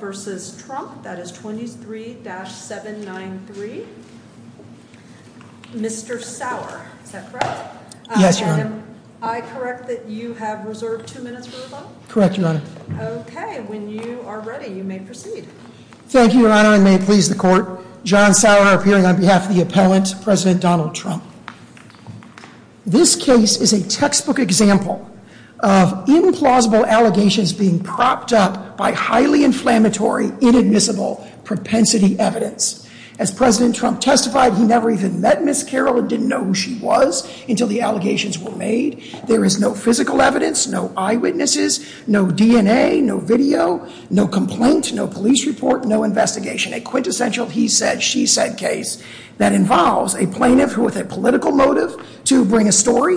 v. Trump, that is 23-793. Mr. Sauer, is that correct? Yes, Your Honor. And am I correct that you have reserved two minutes for rebuttal? Correct, Your Honor. Okay, when you are ready, you may proceed. Thank you, Your Honor, and may it please the Court. John Sauer, appearing on behalf of the appellant, President Donald Trump. This case is a textbook example of implausible allegations being propped up by highly inflammatory, inadmissible propensity evidence. As President Trump testified, he never even met Ms. Carroll and didn't know who she was until the allegations were made. There is no physical evidence, no eyewitnesses, no DNA, no video, no complaint, no police report, no investigation. A quintessential he-said, she-said case that involves a plaintiff with a political motive to bring a story,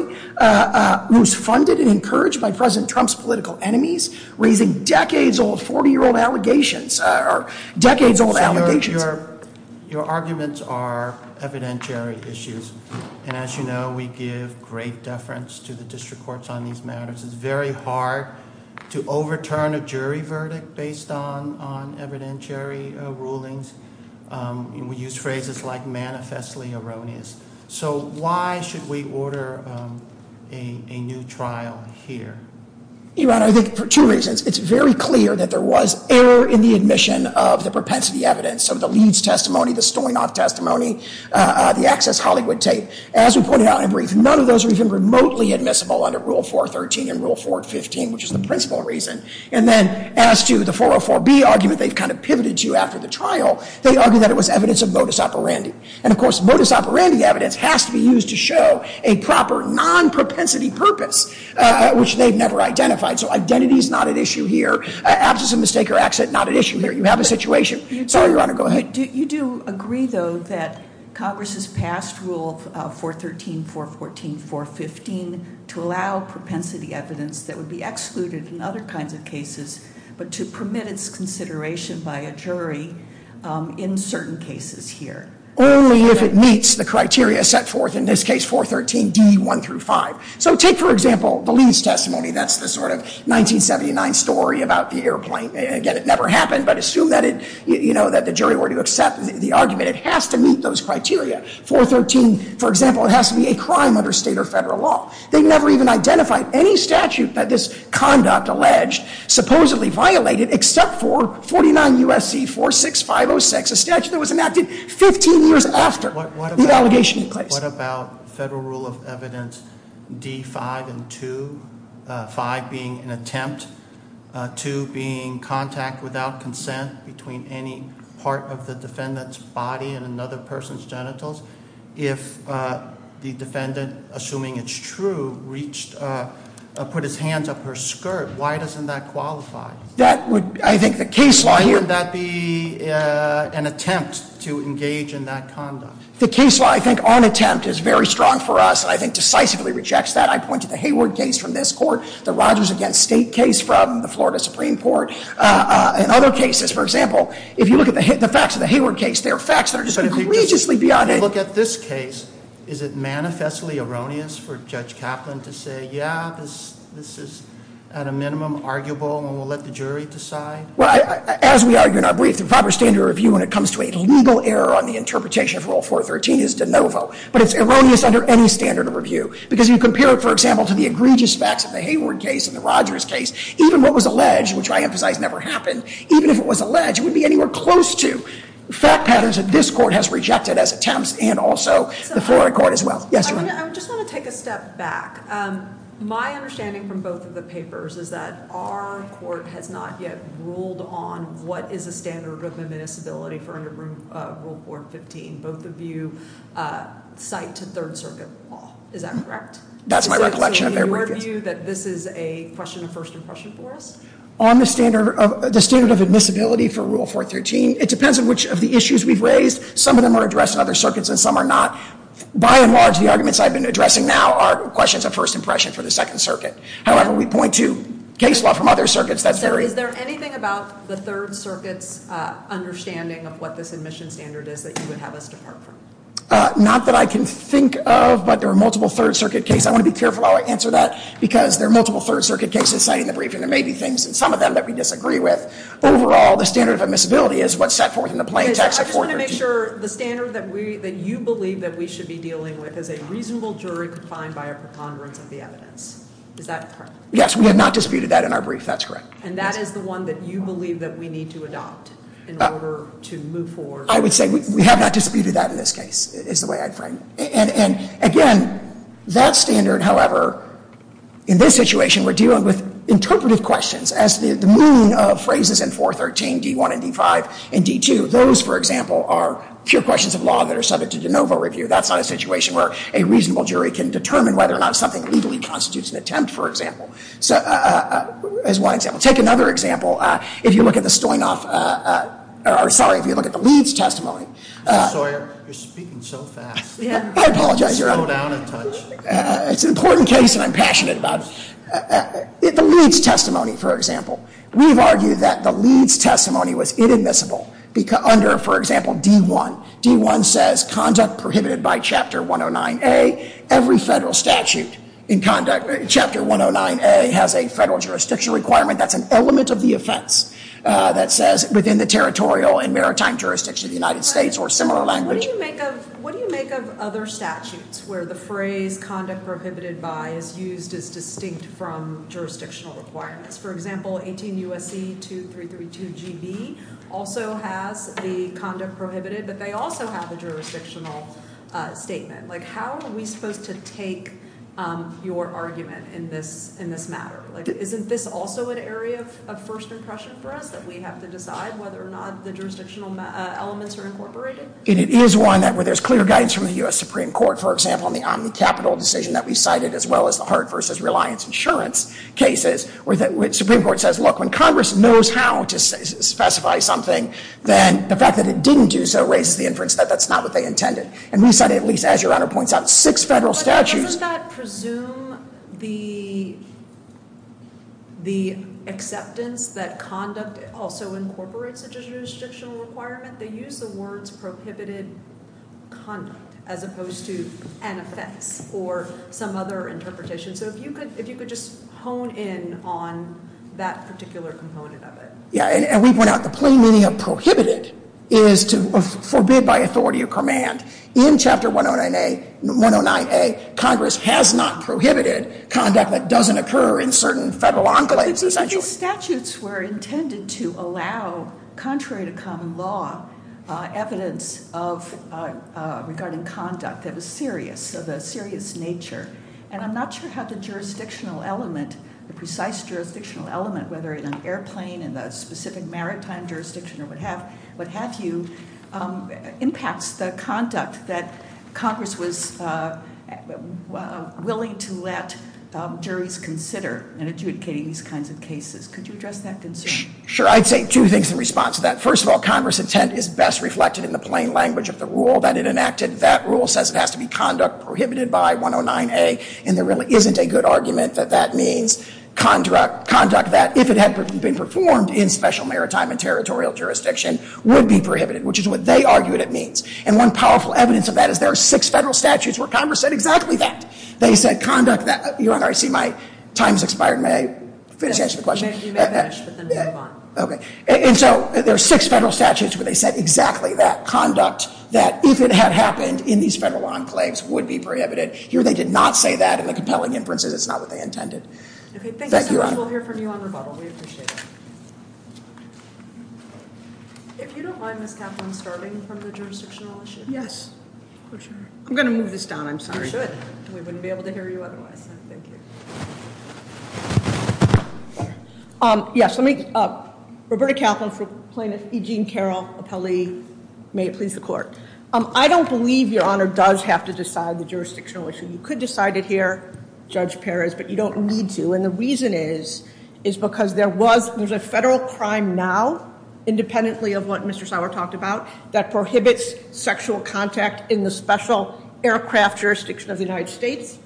who's funded and encouraged by President Trump's political enemies, raising decades-old, 40-year-old allegations, decades-old allegations. Your arguments are evidentiary issues. And as you know, we give great deference to the district courts on these matters. It's very hard to overturn a jury verdict based on evidentiary rulings. We use phrases like manifestly erroneous. So why should we order a new trial here? Your Honor, I think for two reasons. It's very clear that there was error in the admission of the propensity evidence. So the Leeds testimony, the Stoynoff testimony, the Access Hollywood tape, as we pointed out in brief, none of those are even remotely admissible under Rule 413 and Rule 415, which is the principal reason. And then as to the 404B argument they've kind of pivoted to after the trial, they argue that it was evidence of modus operandi. And of course, modus operandi evidence has to be used to show a proper non-propensity purpose, which they've never identified. So identity is not at issue here. Absence of mistake or accident, not at issue here. You have a situation. Sorry, Your Honor. Go ahead. You do agree, though, that Congress has passed Rule 413, 414, 415 to allow propensity evidence that would be excluded in other kinds of cases, but to permit its consideration by a jury in certain cases here. Only if it meets the criteria set forth in this case, 413D1 through 5. So take, for example, the Leeds testimony. That's the sort of 1979 story about the airplane. Again, it never happened, but assume that the jury were to accept the argument. It has to meet those criteria. 413, for example, it has to be a crime under state or federal law. They never even identified any statute that this conduct alleged supposedly violated except for 49 U.S.C. 46506, a statute that was enacted 15 years after the allegation in place. What about federal rule of evidence D5 and 2, 5 being an attempt, 2 being contact without consent between any part of the defendant's body and another person's genitals? If the defendant, assuming it's true, put his hands up her skirt, why doesn't that qualify? I think the case law here- Why would that be an attempt to engage in that conduct? The case law, I think, on attempt is very strong for us. I think decisively rejects that. I point to the Hayward case from this court, the Rogers against State case from the Florida Supreme Court, and other cases. For example, if you look at the facts of the Hayward case, there are facts that are just egregiously beyond- But if you look at this case, is it manifestly erroneous for Judge Kaplan to say, yeah, this is at a minimum arguable and we'll let the jury decide? As we argue in our brief, the proper standard of review when it comes to a legal error on the interpretation of Rule 413 is de novo. But it's erroneous under any standard of review. Because if you compare it, for example, to the egregious facts of the Hayward case and the Rogers case, even what was alleged, which I emphasize never happened, even if it was alleged, it would be anywhere close to fact patterns that this court has rejected as attempts and also the Florida court as well. I just want to take a step back. My understanding from both of the papers is that our court has not yet ruled on what is a standard of admissibility for under Rule 415. Both of you cite to Third Circuit law. Is that correct? That's my recollection of their briefings. So in your view, that this is a question of first impression for us? On the standard of admissibility for Rule 413, it depends on which of the issues we've raised. Some of them are addressed in other circuits and some are not. By and large, the arguments I've been addressing now are questions of first impression for the Second Circuit. However, we point to case law from other circuits that's very— So is there anything about the Third Circuit's understanding of what this admission standard is that you would have us depart from? Not that I can think of, but there are multiple Third Circuit cases. I want to be careful how I answer that because there are multiple Third Circuit cases cited in the briefing. There may be things in some of them that we disagree with. Overall, the standard of admissibility is what's set forth in the plain text of 413. I want to make sure the standard that you believe that we should be dealing with is a reasonable jury confined by a preponderance of the evidence. Is that correct? Yes, we have not disputed that in our brief. That's correct. And that is the one that you believe that we need to adopt in order to move forward? I would say we have not disputed that in this case, is the way I'd frame it. And again, that standard, however, in this situation, we're dealing with interpretive questions. As the meaning of phrases in 413, D1 and D5 and D2, those, for example, are pure questions of law that are subject to de novo review. That's not a situation where a reasonable jury can determine whether or not something legally constitutes an attempt, for example. As one example. Take another example. If you look at the Stoynoff, or sorry, if you look at the Leeds testimony. I'm sorry, you're speaking so fast. I apologize. Slow down a touch. It's an important case, and I'm passionate about it. The Leeds testimony, for example. We've argued that the Leeds testimony was inadmissible under, for example, D1. D1 says conduct prohibited by Chapter 109A. Every federal statute in Chapter 109A has a federal jurisdiction requirement that's an element of the offense that says within the territorial and maritime jurisdiction of the United States or similar language. What do you make of other statutes where the phrase conduct prohibited by is used as distinct from jurisdictional requirements? For example, 18 U.S.C. 2332 G.B. also has the conduct prohibited, but they also have a jurisdictional statement. How are we supposed to take your argument in this matter? Isn't this also an area of first impression for us that we have to decide whether or not the jurisdictional elements are incorporated? And it is one where there's clear guidance from the U.S. Supreme Court, for example, in the Omni-Capital decision that we cited as well as the Hart v. Reliance Insurance cases, where the Supreme Court says, look, when Congress knows how to specify something, then the fact that it didn't do so raises the inference that that's not what they intended. And we cited, at least as your Honor points out, six federal statutes. But doesn't that presume the acceptance that conduct also incorporates a jurisdictional requirement? They use the words prohibited conduct as opposed to an offense or some other interpretation. So if you could just hone in on that particular component of it. Yeah, and we point out the plain meaning of prohibited is to forbid by authority or command. In Chapter 109A, Congress has not prohibited conduct that doesn't occur in certain federal enclaves, essentially. These statutes were intended to allow, contrary to common law, evidence regarding conduct that was serious, of a serious nature. And I'm not sure how the jurisdictional element, the precise jurisdictional element, whether in an airplane in the specific maritime jurisdiction or what have you, impacts the conduct that Congress was willing to let juries consider in adjudicating these kinds of cases. Could you address that concern? Sure. I'd say two things in response to that. First of all, Congress' intent is best reflected in the plain language of the rule that it enacted. That rule says it has to be conduct prohibited by 109A. And there really isn't a good argument that that means conduct that, if it had been performed in special maritime and territorial jurisdiction, would be prohibited, which is what they argued it means. And one powerful evidence of that is there are six federal statutes where Congress said exactly that. They said conduct that, Your Honor, I see my time has expired. May I finish answering the question? You may finish, but then move on. Okay. And so there are six federal statutes where they said exactly that, conduct that, if it had happened in these federal enclaves, would be prohibited. Here they did not say that in the compelling inferences. It's not what they intended. Okay. Thank you so much. We'll hear from you on rebuttal. We appreciate it. If you don't mind, Ms. Kaplan, starting from the jurisdictional issue. Yes. I'm going to move this down. I'm sorry. You should. We wouldn't be able to hear you otherwise. Thank you. Yes. Roberta Kaplan, plaintiff, E. Jean Carroll, appellee. May it please the Court. I don't believe, Your Honor, does have to decide the jurisdictional issue. You could decide it here, Judge Perez, but you don't need to. And the reason is, is because there was, there's a federal crime now, independently of what Mr. Sauer talked about, that prohibits sexual contact in the special aircraft jurisdiction of the United States.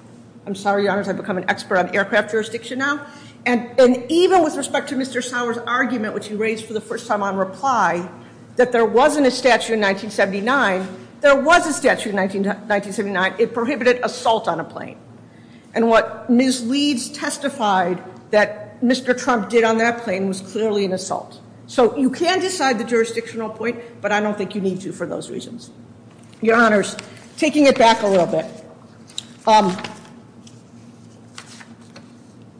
I'm sorry, Your Honor, I've become an expert on aircraft jurisdiction now. And even with respect to Mr. Sauer's argument, which he raised for the first time on reply, that there wasn't a statute in 1979, there was a statute in 1979. It prohibited assault on a plane. And what Ms. Leeds testified that Mr. Trump did on that plane was clearly an assault. So you can decide the jurisdictional point, but I don't think you need to for those reasons. Your Honors, taking it back a little bit.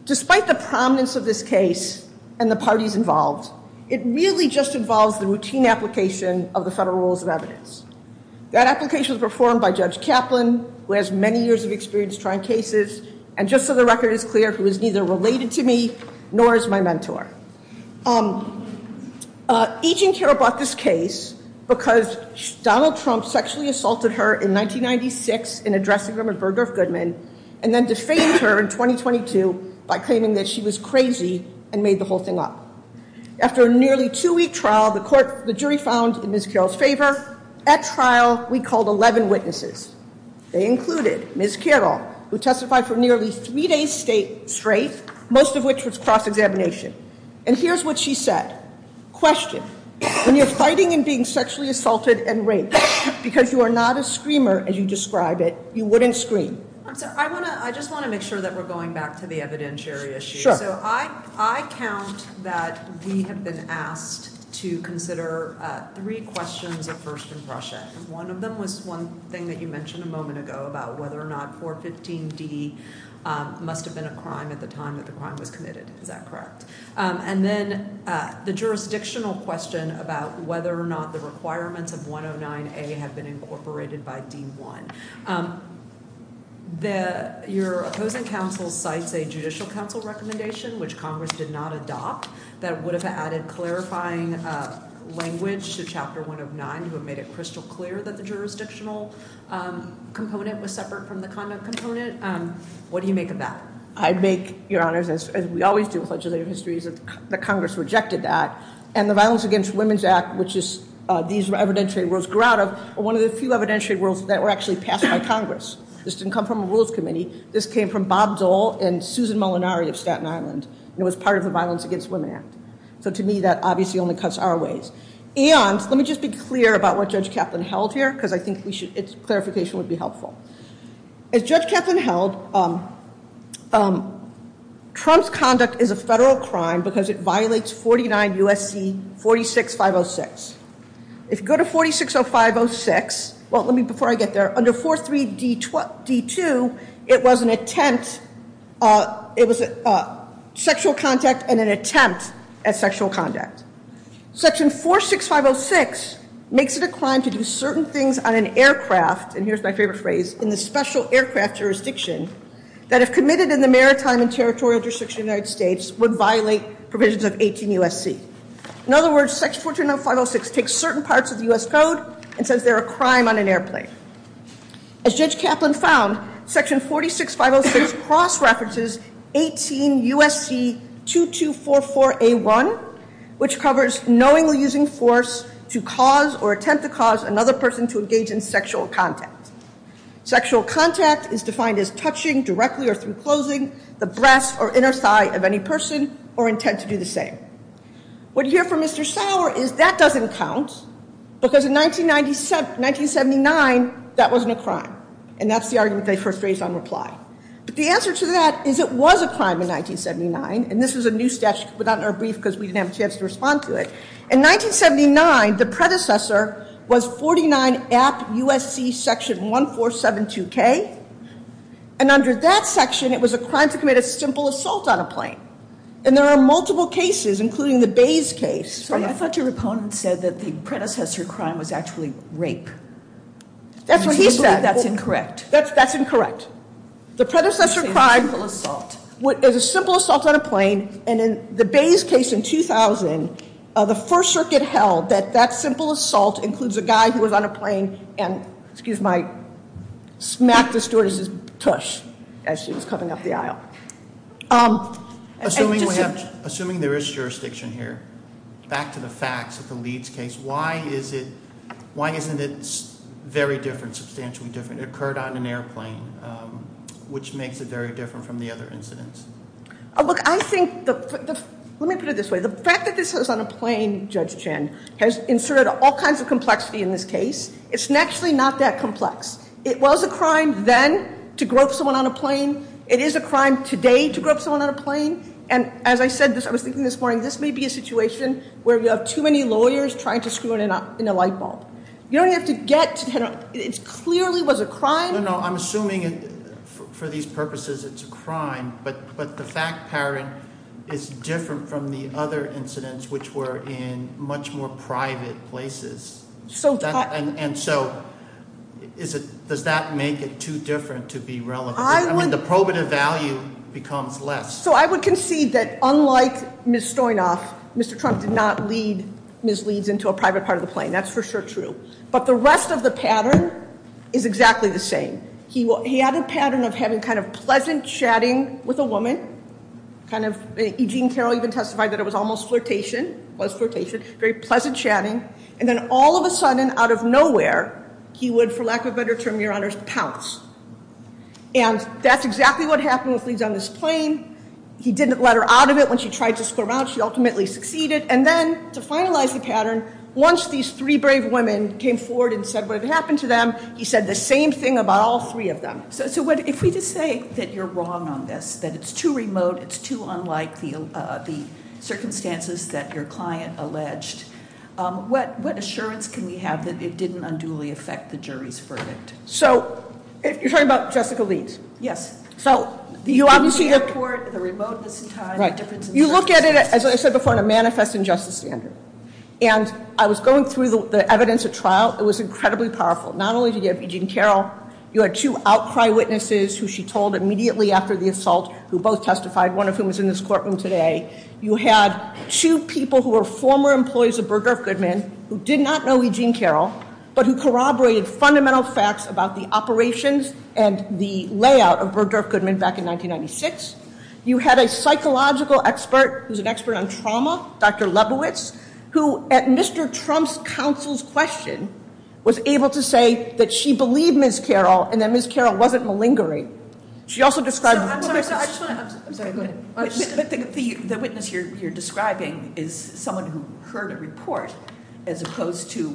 Despite the prominence of this case and the parties involved, it really just involves the routine application of the federal rules of evidence. That application was performed by Judge Kaplan, who has many years of experience trying cases, and just so the record is clear, who is neither related to me nor is my mentor. E.J. and Carol brought this case because Donald Trump sexually assaulted her in 1996 in a dressing room at Burgdorf Goodman, and then defamed her in 2022 by claiming that she was crazy and made the whole thing up. After a nearly two-week trial, the jury found in Ms. Carol's favor. At trial, we called 11 witnesses. They included Ms. Carol, who testified for nearly three days straight, most of which was cross-examination. And here's what she said. Question. When you're fighting and being sexually assaulted and raped, because you are not a screamer as you describe it, you wouldn't scream. I just want to make sure that we're going back to the evidentiary issue. So I count that we have been asked to consider three questions of first impression. One of them was one thing that you mentioned a moment ago about whether or not 415D must have been a crime at the time that the crime was committed. Is that correct? And then the jurisdictional question about whether or not the requirements of 109A have been incorporated by D1. Your opposing counsel cites a judicial counsel recommendation, which Congress did not adopt, that would have added clarifying language to Chapter 109 who had made it crystal clear that the jurisdictional component was separate from the conduct component. What do you make of that? I'd make, Your Honors, as we always do with legislative histories, that Congress rejected that. And the Violence Against Women Act, which these evidentiary rules grew out of, were one of the few evidentiary rules that were actually passed by Congress. This didn't come from a rules committee. This came from Bob Dole and Susan Molinari of Staten Island, and it was part of the Violence Against Women Act. So to me that obviously only cuts our ways. And let me just be clear about what Judge Kaplan held here because I think its clarification would be helpful. As Judge Kaplan held, Trump's conduct is a federal crime because it violates 49 U.S.C. 46506. If you go to 460506, well, let me before I get there, under 43D2 it was an attempt, it was sexual contact and an attempt at sexual conduct. Section 46506 makes it a crime to do certain things on an aircraft, and here's my favorite phrase, in the special aircraft jurisdiction that if committed in the maritime and territorial jurisdiction of the United States would violate provisions of 18 U.S.C. In other words, section 46506 takes certain parts of the U.S. Code and says they're a crime on an airplane. As Judge Kaplan found, section 46506 cross-references 18 U.S.C. 2244A1, which covers knowingly using force to cause or attempt to cause another person to engage in sexual contact. Sexual contact is defined as touching directly or through closing the breast or inner thigh of any person or intent to do the same. What you hear from Mr. Sauer is that doesn't count, because in 1979 that wasn't a crime, and that's the argument they first raised on reply. But the answer to that is it was a crime in 1979, and this was a new statute put out in our brief because we didn't have a chance to respond to it. In 1979, the predecessor was 49 App. U.S.C. section 1472K, and under that section it was a crime to commit a simple assault on a plane. And there are multiple cases, including the Bays case. I thought your opponent said that the predecessor crime was actually rape. That's what he said. I believe that's incorrect. That's incorrect. The predecessor crime is a simple assault on a plane, and in the Bays case in 2000, the First Circuit held that that simple assault includes a guy who was on a plane and smacked the stewardess's tush as she was coming up the aisle. Assuming there is jurisdiction here, back to the facts of the Leeds case, why isn't it very different, substantially different? It occurred on an airplane, which makes it very different from the other incidents. Look, let me put it this way. The fact that this was on a plane, Judge Chen, has inserted all kinds of complexity in this case. It's actually not that complex. It was a crime then to grope someone on a plane. It is a crime today to grope someone on a plane. And as I said, I was thinking this morning, this may be a situation where you have too many lawyers trying to screw it up in a light bulb. You don't have to get to the head of it. It clearly was a crime. No, no, I'm assuming for these purposes it's a crime, but the fact, Karen, is different from the other incidents, which were in much more private places. And so does that make it too different to be relevant? I mean, the probative value becomes less. So I would concede that unlike Ms. Stoynoff, Mr. Trump did not lead Ms. Leeds into a private part of the plane. That's for sure true. But the rest of the pattern is exactly the same. He had a pattern of having kind of pleasant chatting with a woman, kind of, Eugene Carroll even testified that it was almost flirtation, was flirtation, very pleasant chatting, and then all of a sudden, out of nowhere, he would, for lack of a better term, Your Honors, pounce. And that's exactly what happened with Leeds on this plane. He didn't let her out of it. When she tried to squirm out, she ultimately succeeded. And then to finalize the pattern, once these three brave women came forward and said what had happened to them, he said the same thing about all three of them. So if we just say that you're wrong on this, that it's too remote, it's too unlike the circumstances that your client alleged, what assurance can we have that it didn't unduly affect the jury's verdict? So you're talking about Jessica Leeds? Yes. So you obviously report the remoteness in time. You look at it, as I said before, in a manifest injustice standard. And I was going through the evidence at trial. It was incredibly powerful. Not only did you have Eugene Carroll, you had two outcry witnesses who she told immediately after the assault, who both testified, one of whom is in this courtroom today. You had two people who were former employees of Burdurff Goodman who did not know Eugene Carroll, but who corroborated fundamental facts about the operations and the layout of Burdurff Goodman back in 1996. You had a psychological expert who's an expert on trauma, Dr. Lebowitz, who, at Mr. Trump's counsel's question, was able to say that she believed Ms. Carroll and that Ms. Carroll wasn't malingering. I'm sorry, go ahead. The witness you're describing is someone who heard a report as opposed to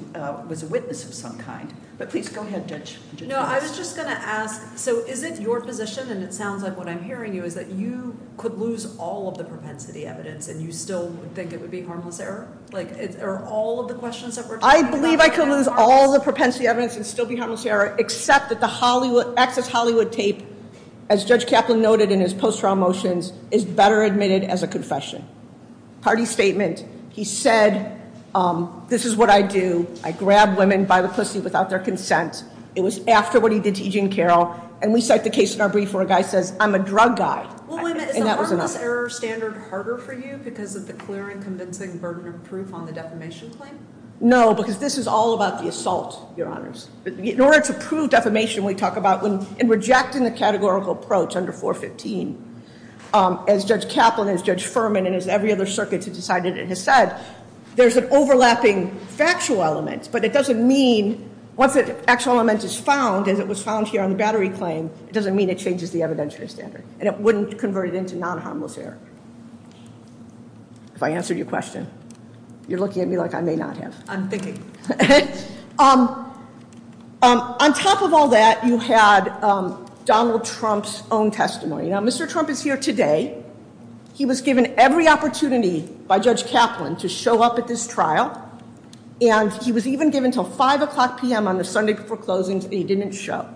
was a witness of some kind. But please, go ahead, Judge. No, I was just going to ask, so is it your position, and it sounds like what I'm hearing you, is that you could lose all of the propensity evidence and you still think it would be harmless error? Like, are all of the questions that we're talking about harmless? I believe I could lose all of the propensity evidence and still be harmless error except that the Access Hollywood tape, as Judge Kaplan noted in his post-trial motions, is better admitted as a confession. Party statement. He said, this is what I do. I grab women by the pussy without their consent. It was after what he did to E.J. and Carroll, and we cite the case in our brief where a guy says, I'm a drug guy. Well, wait a minute. Isn't the harmless error standard harder for you because of the clear and convincing burden of proof on the defamation claim? No, because this is all about the assault, Your Honors. In order to prove defamation, we talk about, in rejecting the categorical approach under 415, as Judge Kaplan, as Judge Furman, and as every other circuit that decided it has said, there's an overlapping factual element, but it doesn't mean once the actual element is found, as it was found here on the battery claim, it doesn't mean it changes the evidentiary standard and it wouldn't convert it into non-harmless error. Have I answered your question? You're looking at me like I may not have. I'm thinking. On top of all that, you had Donald Trump's own testimony. Now, Mr. Trump is here today. He was given every opportunity by Judge Kaplan to show up at this trial, and he was even given until 5 o'clock p.m. on the Sunday before closings, and he didn't show.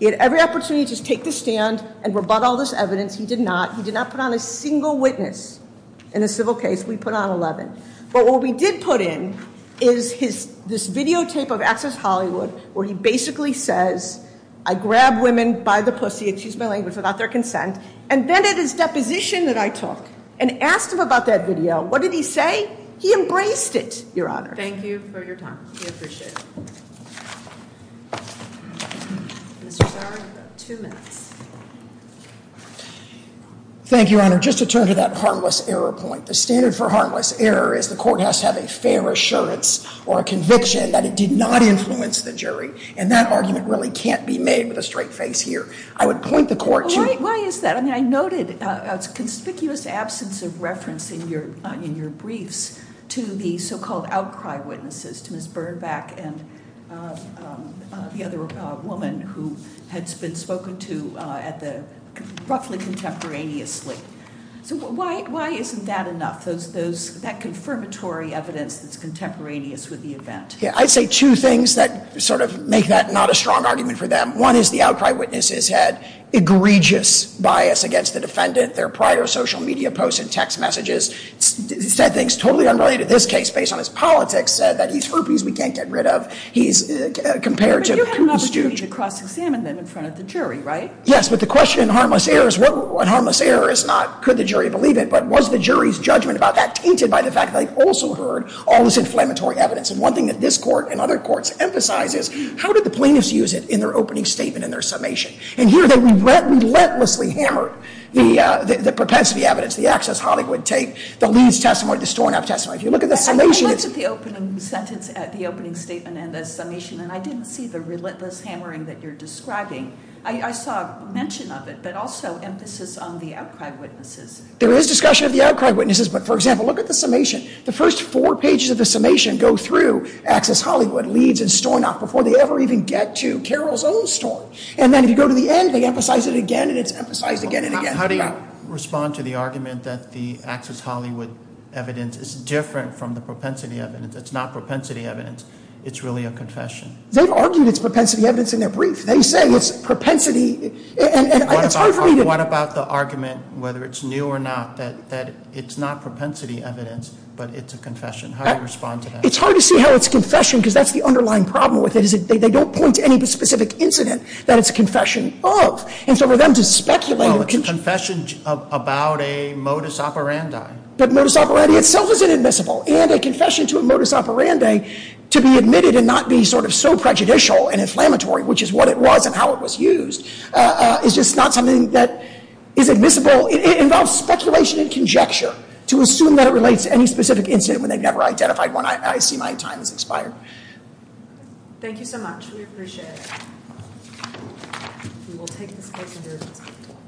He had every opportunity to just take the stand and rebut all this evidence. He did not. He did not put on a single witness in the civil case. We put on 11. But what we did put in is this videotape of Access Hollywood where he basically says, I grab women by the pussy, excuse my language, without their consent, and then at his deposition that I took and asked him about that video, what did he say? He embraced it, Your Honor. Thank you for your time. We appreciate it. Mr. Sauer, you have two minutes. Thank you, Your Honor. Just to turn to that harmless error point, the standard for harmless error is the court has to have a fair assurance or a conviction that it did not influence the jury, and that argument really can't be made with a straight face here. I would point the court to you. Why is that? I noted a conspicuous absence of reference in your briefs to the so-called outcry witnesses, to Ms. Birnbeck and the other woman who had been spoken to at the, roughly contemporaneously. So why isn't that enough, that confirmatory evidence that's contemporaneous with the event? I'd say two things that sort of make that not a strong argument for them. One is the outcry witnesses had egregious bias against the defendant, their prior social media posts and text messages, said things totally unrelated to this case based on his politics, said that he's herpes we can't get rid of. But you had an opportunity to cross-examine them in front of the jury, right? Yes, but the question in harmless error is not could the jury believe it, but was the jury's judgment about that tainted by the fact that they'd also heard all this inflammatory evidence? And one thing that this court and other courts emphasize is how did the plaintiffs use it in their opening statement and their summation? And here they relentlessly hammered the propensity evidence, the access Hollywood tape, the Leeds testimony, the Stornow testimony. If you look at the summation, it's... I looked at the opening sentence, at the opening statement and the summation, and I didn't see the relentless hammering that you're describing. I saw mention of it, but also emphasis on the outcry witnesses. There is discussion of the outcry witnesses, but, for example, look at the summation. The first four pages of the summation go through access Hollywood, Leeds, and Stornow before they ever even get to Carroll's own story. And then if you go to the end, they emphasize it again, and it's emphasized again and again. How do you respond to the argument that the access Hollywood evidence is different from the propensity evidence? It's not propensity evidence. It's really a confession. They've argued it's propensity evidence in their brief. They say it's propensity, and it's hard for me to... What about the argument, whether it's new or not, that it's not propensity evidence, but it's a confession? How do you respond to that? It's hard to see how it's a confession because that's the underlying problem with it. They don't point to any specific incident that it's a confession of. And so for them to speculate... Well, it's a confession about a modus operandi. But modus operandi itself is inadmissible. And a confession to a modus operandi to be admitted and not be sort of so prejudicial and inflammatory, which is what it was and how it was used, is just not something that is admissible. It involves speculation and conjecture to assume that it relates to any specific incident when they've never identified one. I see my time has expired. Thank you so much. We appreciate it.